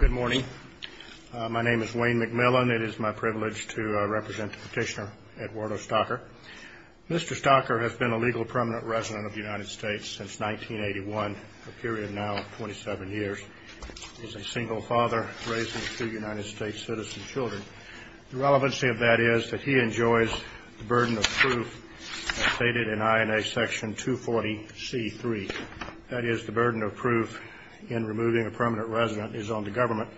Good morning. My name is Wayne McMillan. It is my privilege to represent Petitioner Eduardo Stocker. Mr. Stocker has been a legal permanent resident of the United States since 1981, a period now of 27 years. He's a single father raising two United States citizen children. The relevancy of that is that he enjoys the burden of proof as stated in INA Section 240C3. That is, the burden of proof in removing a permanent resident is on the government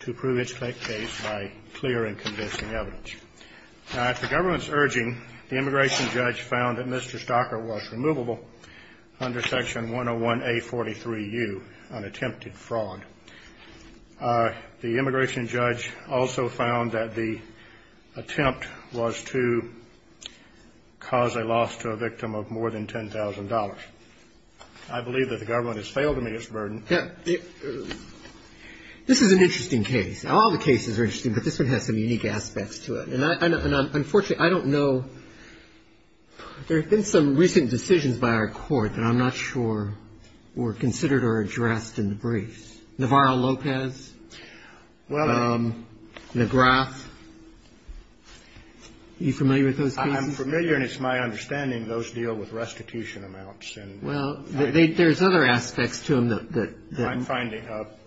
to prove its case by clear and convincing evidence. Now, at the government's urging, the immigration judge found that Mr. Stocker was removable under Section 101A43U, an attempted fraud. The immigration judge also found that the attempt was to cause a loss to a victim of more than $10,000. I believe that the government has failed to meet its burden. This is an interesting case. All the cases are interesting, but this one has some unique aspects to it. Unfortunately, I don't know. There have been some recent decisions by our court that I'm not sure were considered or addressed in the briefs. Navarro-Lopez, McGrath. Are you familiar with those cases? I'm familiar, and it's my understanding those deal with restitution amounts. Well, there's other aspects to them that… I'm finding.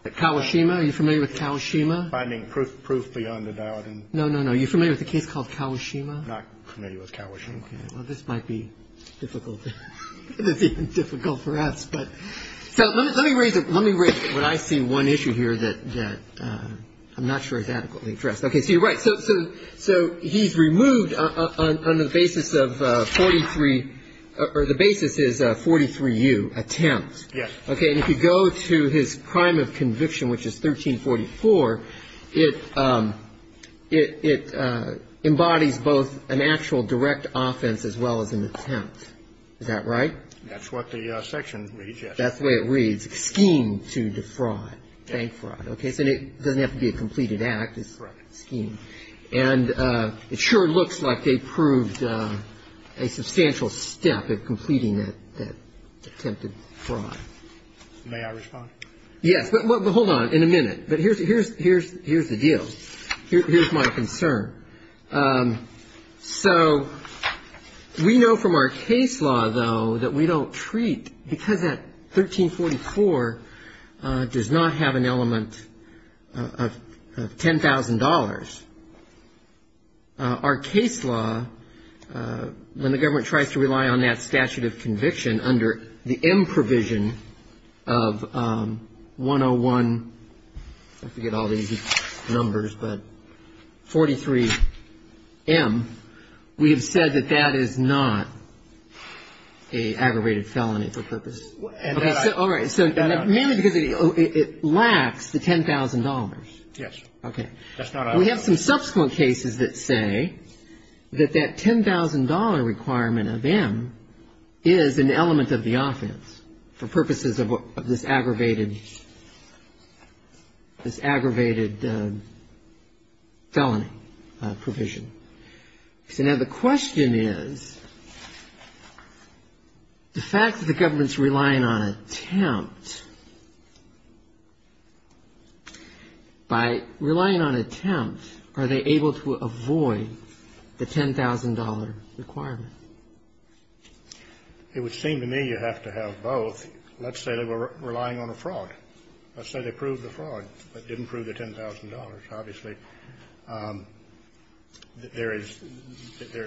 Kawashima. Are you familiar with Kawashima? I'm finding proof beyond a doubt. No, no, no. Are you familiar with a case called Kawashima? I'm not familiar with Kawashima. Okay. Well, this might be difficult. It's even difficult for us. So let me raise it. Let me raise it. But I see one issue here that I'm not sure is adequately addressed. Okay. So you're right. So he's removed on the basis of 43 – or the basis is 43U, attempt. Yes. Okay. And if you go to his crime of conviction, which is 1344, it embodies both an actual direct offense as well as an attempt. Is that right? That's what the section reads, yes. That's the way it reads. Scheme to defraud, bank fraud. Okay. So it doesn't have to be a completed act. Correct. And it sure looks like they proved a substantial step at completing that attempted fraud. May I respond? Yes. Well, hold on. In a minute. But here's the deal. Here's my concern. So we know from our case law, though, that we don't treat – because that 1344 does not have an element of $10,000. Our case law, when the government tries to rely on that statute of conviction under the M provision of 101 – I forget all these numbers, but 43M, we have said that that is not an aggravated felony for purpose. All right. So mainly because it lacks the $10,000. Yes. Okay. We have some subsequent cases that say that that $10,000 requirement of M is an element of the offense for purposes of this aggravated felony provision. So now the question is, the fact that the government's relying on attempt, by relying on attempt, are they able to avoid the $10,000 requirement? It would seem to me you have to have both. Let's say they were relying on a fraud. Let's say they proved the fraud, but didn't prove the $10,000. Obviously, there is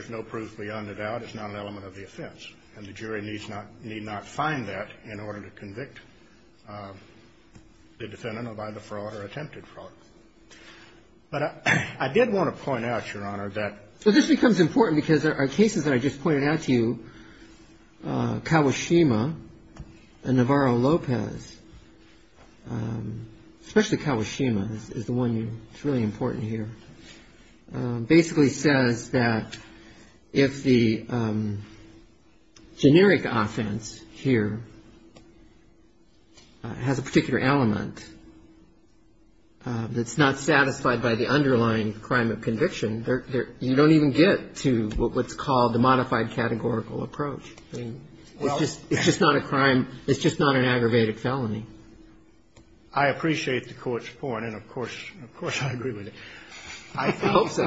no proof beyond the doubt. It's not an element of the offense. And the jury need not find that in order to convict the defendant of either fraud or attempted fraud. But I did want to point out, Your Honor, that – and Navarro-Lopez, especially Kawashima is the one that's really important here, basically says that if the generic offense here has a particular element that's not satisfied by the underlying crime of conviction, you don't even get to what's called the modified categorical approach. It's just not a crime. It's just not an aggravated felony. I appreciate the Court's point. And, of course, I agree with it. I hope so.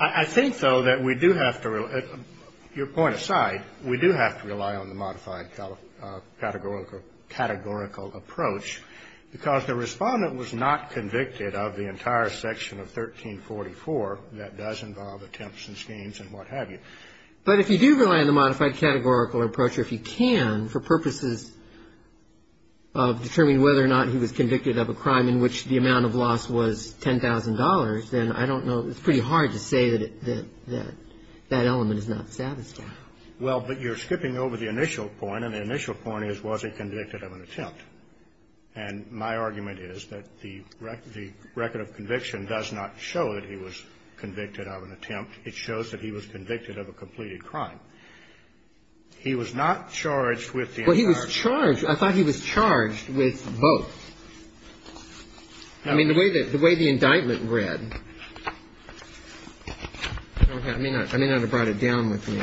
I think, though, that we do have to – your point aside, we do have to rely on the modified categorical approach, because the Respondent was not convicted of the entire section of 1344 that does involve attempts and schemes and what have you. But if you do rely on the modified categorical approach, or if you can, for purposes of determining whether or not he was convicted of a crime in which the amount of loss was $10,000, then I don't know – it's pretty hard to say that that element is not satisfied. Well, but you're skipping over the initial point, and the initial point is was he convicted of an attempt. And my argument is that the record of conviction does not show that he was convicted of an attempt. It shows that he was convicted of a completed crime. He was not charged with the entire – Well, he was charged – I thought he was charged with both. I mean, the way that – the way the indictment read – I don't have – I may not have brought it down with me.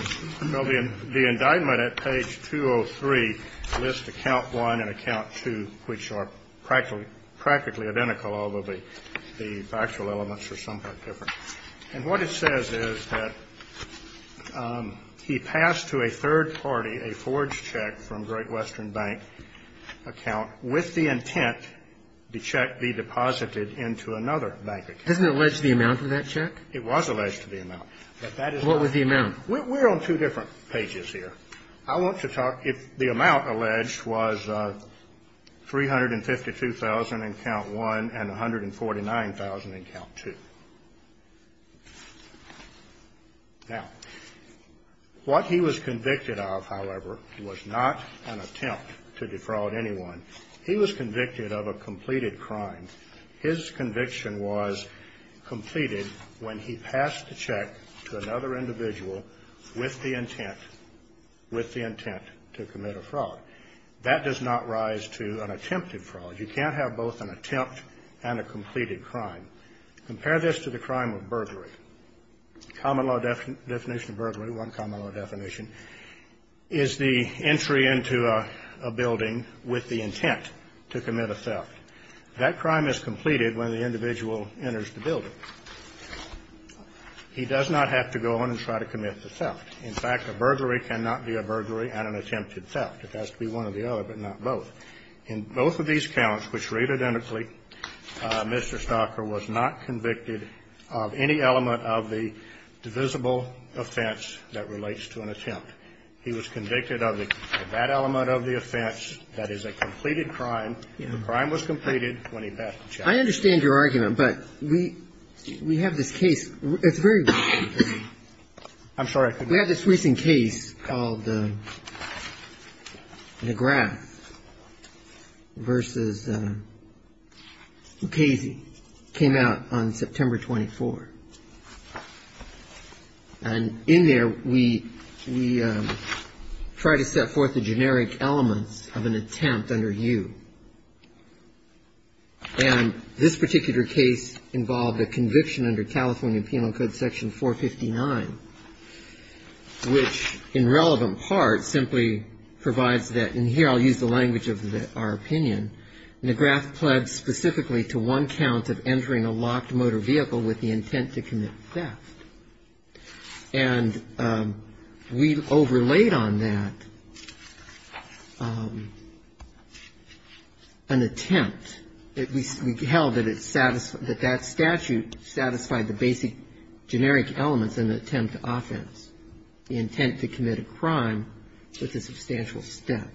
Well, the indictment at page 203 lists account one and account two, which are practically identical, although the factual elements are somewhat different. And what it says is that he passed to a third party a forged check from Great Western Bank account with the intent the check be deposited into another bank account. Doesn't it allege the amount of that check? What was the amount? We're on two different pages here. I want to talk – if the amount alleged was $352,000 in account one and $149,000 in account two. Now, what he was convicted of, however, was not an attempt to defraud anyone. He was convicted of a completed crime. His conviction was completed when he passed the check to another individual with the intent – with the intent to commit a fraud. That does not rise to an attempted fraud. You can't have both an attempt and a completed crime. Compare this to the crime of burglary. Common law definition of burglary, one common law definition, is the entry into a building with the intent to commit a theft. That crime is completed when the individual enters the building. He does not have to go on and try to commit the theft. In fact, a burglary cannot be a burglary and an attempted theft. It has to be one or the other, but not both. In both of these counts, which read identically, Mr. Stocker was not convicted of any element of the divisible offense that relates to an attempt. He was convicted of that element of the offense. That is a completed crime. The crime was completed when he passed the check. I understand your argument, but we have this case. It's very recent. I'm sorry, I couldn't hear you. We have this recent case called McGrath v. Lucchese. It came out on September 24. And in there, we try to set forth the generic elements of an attempt under you. And this particular case involved a conviction under California Penal Code section 459, which in relevant part simply provides that, and here I'll use the language of our opinion, McGrath pledged specifically to one count of entering a locked motor vehicle with the intent to commit theft. And we overlaid on that an attempt. We held that that statute satisfied the basic generic elements in the attempt to offense, the intent to commit a crime with a substantial theft.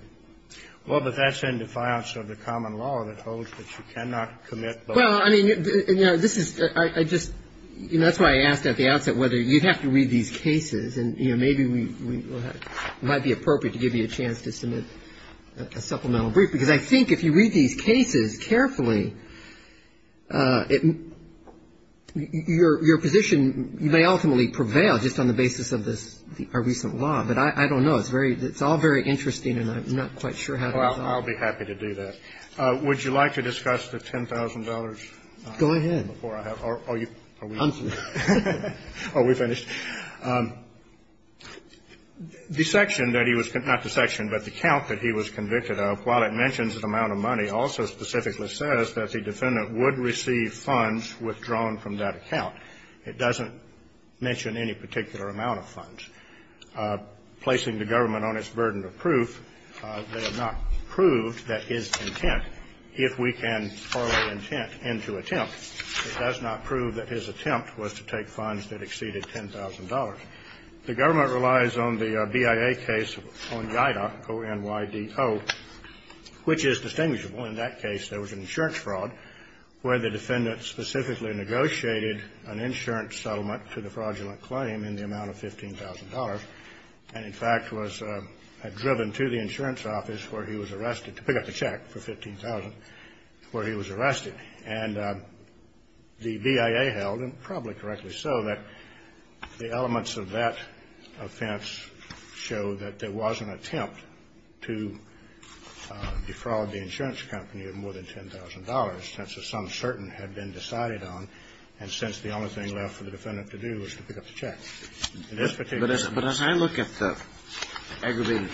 Well, but that's in defiance of the common law that holds that you cannot commit both. Well, I mean, you know, this is, I just, you know, that's why I asked at the outset whether you'd have to read these cases. And, you know, maybe we might be appropriate to give you a chance to submit a supplemental brief. Because I think if you read these cases carefully, your position may ultimately prevail just on the basis of this, our recent law. But I don't know. It's very, it's all very interesting, and I'm not quite sure how to resolve it. Well, I'll be happy to do that. Would you like to discuss the $10,000? Go ahead. Before I have, are you, are we finished? I'm sorry. Are we finished? The section that he was, not the section, but the count that he was convicted of, while it mentions an amount of money, also specifically says that the defendant would receive funds withdrawn from that account. It doesn't mention any particular amount of funds. Placing the government on its burden of proof, they have not proved that his intent, if we can parlay intent into attempt, it does not prove that his attempt was to take funds that exceeded $10,000. The government relies on the BIA case on IDA, O-N-Y-D-O, which is distinguishable. In that case, there was an insurance fraud where the defendant specifically negotiated an insurance settlement to the fraudulent claim in the amount of $15,000, and, in fact, was driven to the insurance office where he was arrested to pick up the check for $15,000 where he was arrested. And the BIA held, and probably correctly so, that the elements of that offense show that there was an attempt to defraud the insurance company of more than $10,000 since a sum certain had been decided on, and since the only thing left for the defendant to do was to pick up the check. In this particular case. But as I look at the aggravated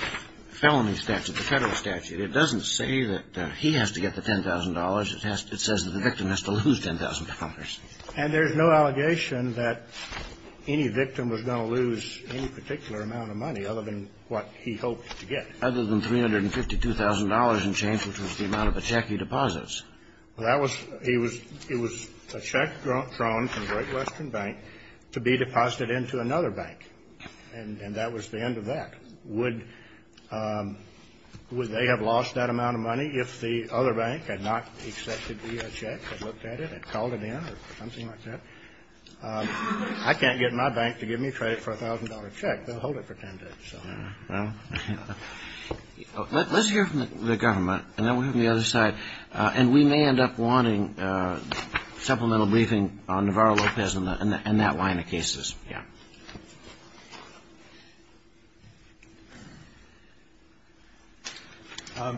felony statute, the Federal statute, it doesn't say that he has to get the $10,000. It says that the victim has to lose $10,000. And there's no allegation that any victim was going to lose any particular amount of money other than what he hoped to get. Other than $352,000 in change, which was the amount of a check he deposits. Well, that was, he was, it was a check thrown from Great Western Bank to be deposited into another bank. And that was the end of that. Would they have lost that amount of money if the other bank had not accepted the check, had looked at it, had called it in, or something like that? I can't get my bank to give me credit for a $1,000 check. They'll hold it for 10 days. Well, let's hear from the government, and then we'll hear from the other side. And we may end up wanting supplemental briefing on Navarro-Lopez and that line of cases. Yeah.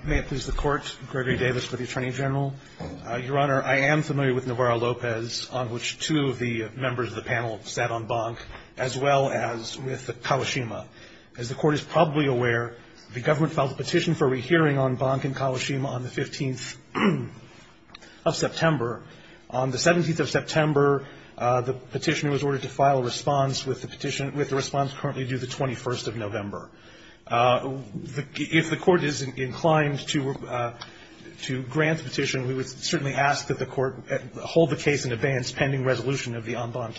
May it please the Court. Gregory Davis with the Attorney General. Your Honor, I am familiar with Navarro-Lopez, on which two of the members of the panel sat on bonk, as well as with Kawashima. As the Court is probably aware, the government filed a petition for a rehearing on bonk in Kawashima on the 15th of September. On the 17th of September, the petitioner was ordered to file a response with the petition, with the response currently due the 21st of November. I would like to ask a question. We would certainly ask that the Court hold the case in advance pending resolution of the on bonk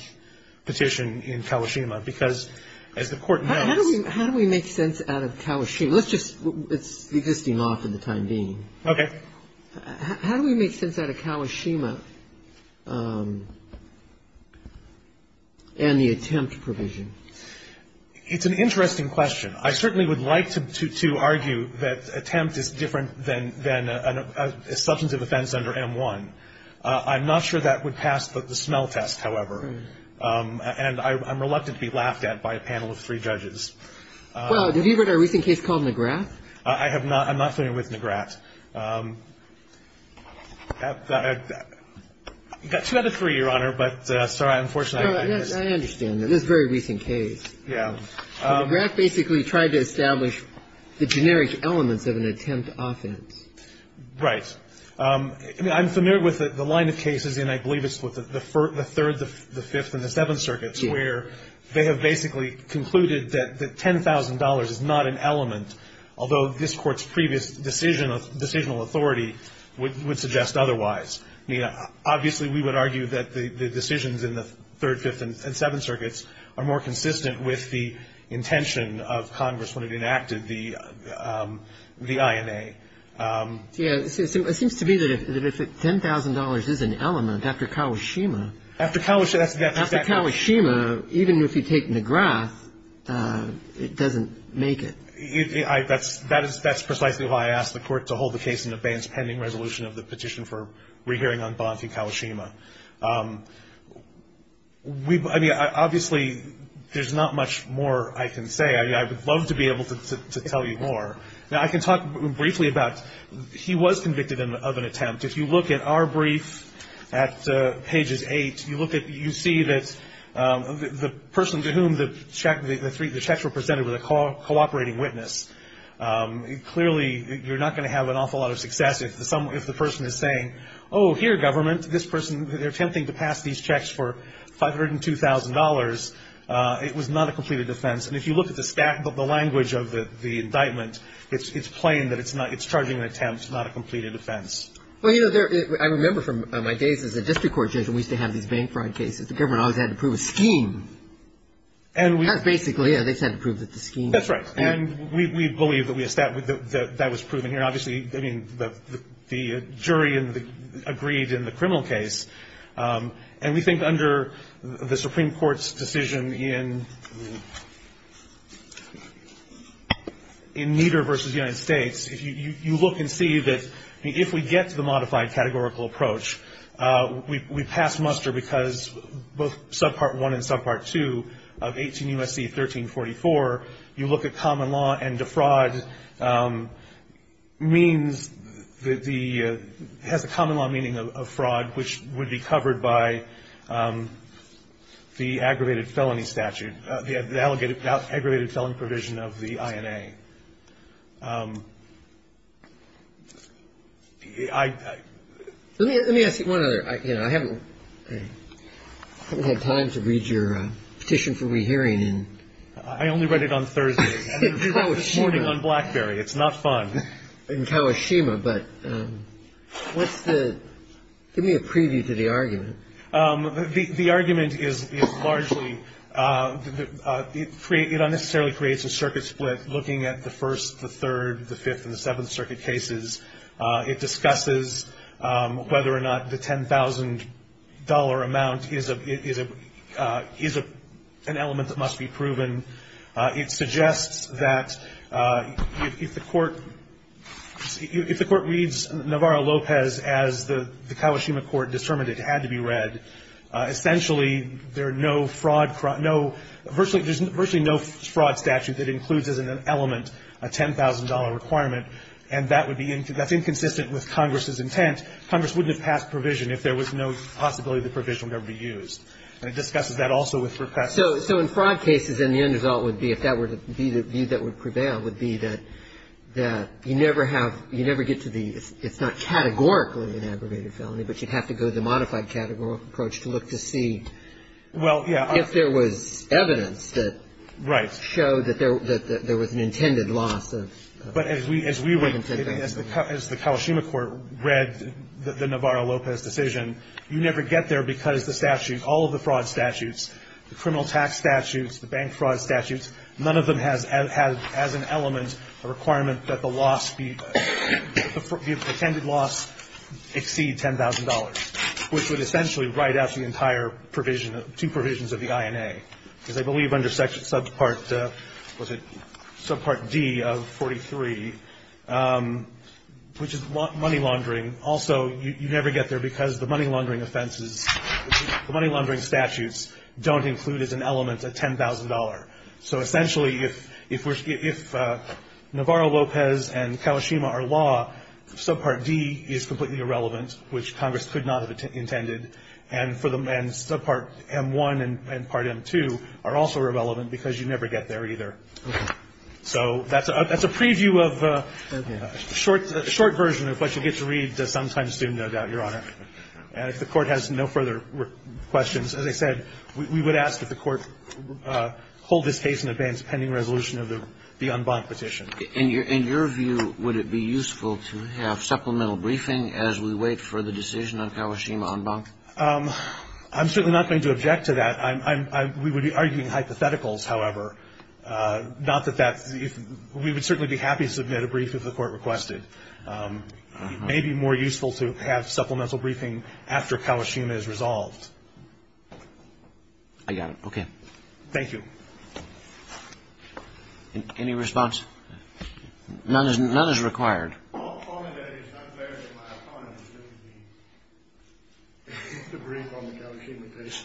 petition in Kawashima, because as the Court knows — How do we make sense out of Kawashima? Let's just — it's existing law for the time being. Okay. How do we make sense out of Kawashima and the attempt provision? It's an interesting question. I certainly would like to argue that attempt is different than a substantive offense under M-1. I'm not sure that would pass the smell test, however. And I'm reluctant to be laughed at by a panel of three judges. Well, have you heard of a recent case called McGrath? I have not. I'm not familiar with McGrath. I've got two out of three, Your Honor, but I'm sorry. I'm unfortunate. I understand. This is a very recent case. Yeah. McGrath basically tried to establish the generic elements of an attempt offense. Right. I mean, I'm familiar with the line of cases, and I believe it's with the Third, the Fifth, and the Seventh Circuits, where they have basically concluded that $10,000 is not an element, although this Court's previous decision of decisional authority would suggest otherwise. I mean, obviously, we would argue that the decisions in the Third, Fifth, and Seventh Circuits are more consistent with the intention of Congress when it enacted the INA. Yeah. It seems to me that if $10,000 is an element after Kawashima. After Kawashima. After Kawashima, even if you take McGrath, it doesn't make it. That's precisely why I asked the Court to hold the case in abeyance, pending resolution of the petition for rehearing on Bonfi-Kawashima. I mean, obviously, there's not much more I can say. I mean, I would love to be able to tell you more. Now, I can talk briefly about he was convicted of an attempt. If you look at our brief at pages 8, you see that the person to whom the checks were presented was a cooperating witness. Clearly, you're not going to have an awful lot of success if the person is saying, oh, here, government, this person, they're attempting to pass these checks for $502,000. It was not a completed offense. And if you look at the language of the indictment, it's plain that it's charging an attempt, not a completed offense. Well, you know, I remember from my days as a district court judge and we used to have these bank fraud cases. The government always had to prove a scheme. That's basically it. They just had to prove that the scheme. That's right. And we believe that that was proven here. Obviously, I mean, the jury agreed in the criminal case. And we think under the Supreme Court's decision in Nieder v. United States, you look and see that if we get to the modified categorical approach, we pass muster because both Subpart 1 and Subpart 2 of 18 U.S.C. 1344, you look at common law and defraud means that the ‑‑ has a common law meaning of fraud, which would be covered by the aggravated felony statute, the aggravated felony provision of the INA. Let me ask you one other. I haven't had time to read your petition for rehearing. I only read it on Thursday and this morning on BlackBerry. It's not fun. In Kawashima. But what's the ‑‑ give me a preview to the argument. The argument is largely ‑‑ it unnecessarily creates a circuit split looking at the first, the third, the fifth, and the seventh circuit cases. It discusses whether or not the $10,000 amount is an element that must be proven. It suggests that if the court reads Navarro-Lopez as the Kawashima court determined it had to be read, essentially there are no fraud ‑‑ virtually no fraud statute that includes as an element a $10,000 requirement. And that's inconsistent with Congress's intent. Congress wouldn't have passed provision if there was no possibility the provision would ever be used. And it discusses that also with ‑‑ So in fraud cases then the end result would be, if that were to be the view that would prevail, would be that you never have, you never get to the, it's not categorically an aggravated felony, but you'd have to go to the modified categorical approach to look to see if there was evidence that showed that there was an intended loss. But as we would, as the Kawashima court read the Navarro-Lopez decision, you never get there because the statute, all of the fraud statutes, the criminal tax statutes, the bank fraud statutes, none of them has as an element a requirement that the loss be, the intended loss exceed $10,000, which would essentially write out the entire provision, two provisions of the INA. Because I believe under subpart, was it, subpart D of 43, which is money laundering, also you never get there because the money laundering offenses, the money laundering statutes don't include as an element a $10,000. So essentially if Navarro-Lopez and Kawashima are law, subpart D is completely irrelevant, which Congress could not have intended. And subpart M1 and part M2 are also irrelevant because you never get there either. So that's a preview of a short version of what you get to read sometime soon, no doubt, Your Honor. And if the Court has no further questions, as I said, we would ask that the Court hold this case in advance pending resolution of the en banc petition. In your view, would it be useful to have supplemental briefing as we wait for the decision on Kawashima en banc? I'm certainly not going to object to that. We would be arguing hypotheticals, however. Not that that's, we would certainly be happy to submit a brief if the Court requested. It may be more useful to have supplemental briefing after Kawashima is resolved. I got it. Okay. Thank you. Any response? None is required. I'll comment that it is not fair that my opponent submit the brief on the Kawashima case.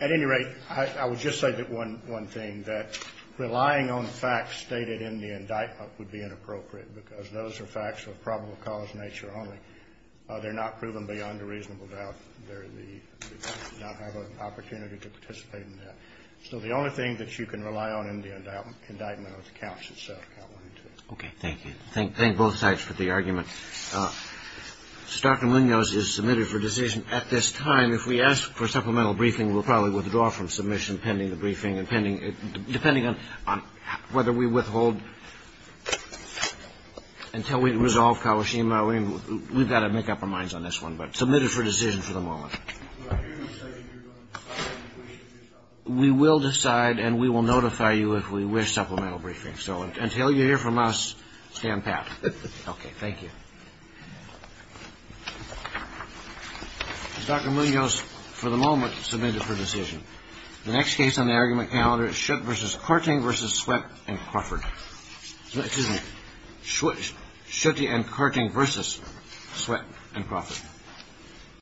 At any rate, I would just say that one thing, that relying on facts stated in the indictment would be inappropriate because those are facts of probable cause nature only. They're not proven beyond a reasonable doubt. They're the, not have an opportunity to participate in that. So the only thing that you can rely on in the indictment is the counts itself. Okay. Thank you. Thank both sides for the argument. Dr. Munoz is submitted for decision at this time. If we ask for supplemental briefing, we'll probably withdraw from submission pending the briefing, depending on whether we withhold until we resolve Kawashima. We've got to make up our minds on this one, but submitted for decision for them all. We will decide and we will notify you if we wish supplemental briefing. So until you hear from us, stand pat. Okay. Thank you. Dr. Munoz, for the moment, submitted for decision. The next case on the argument calendar is Schutte v. Korting v. Sweatt and Crawford. Excuse me. Schutte and Korting v. Sweatt and Crawford.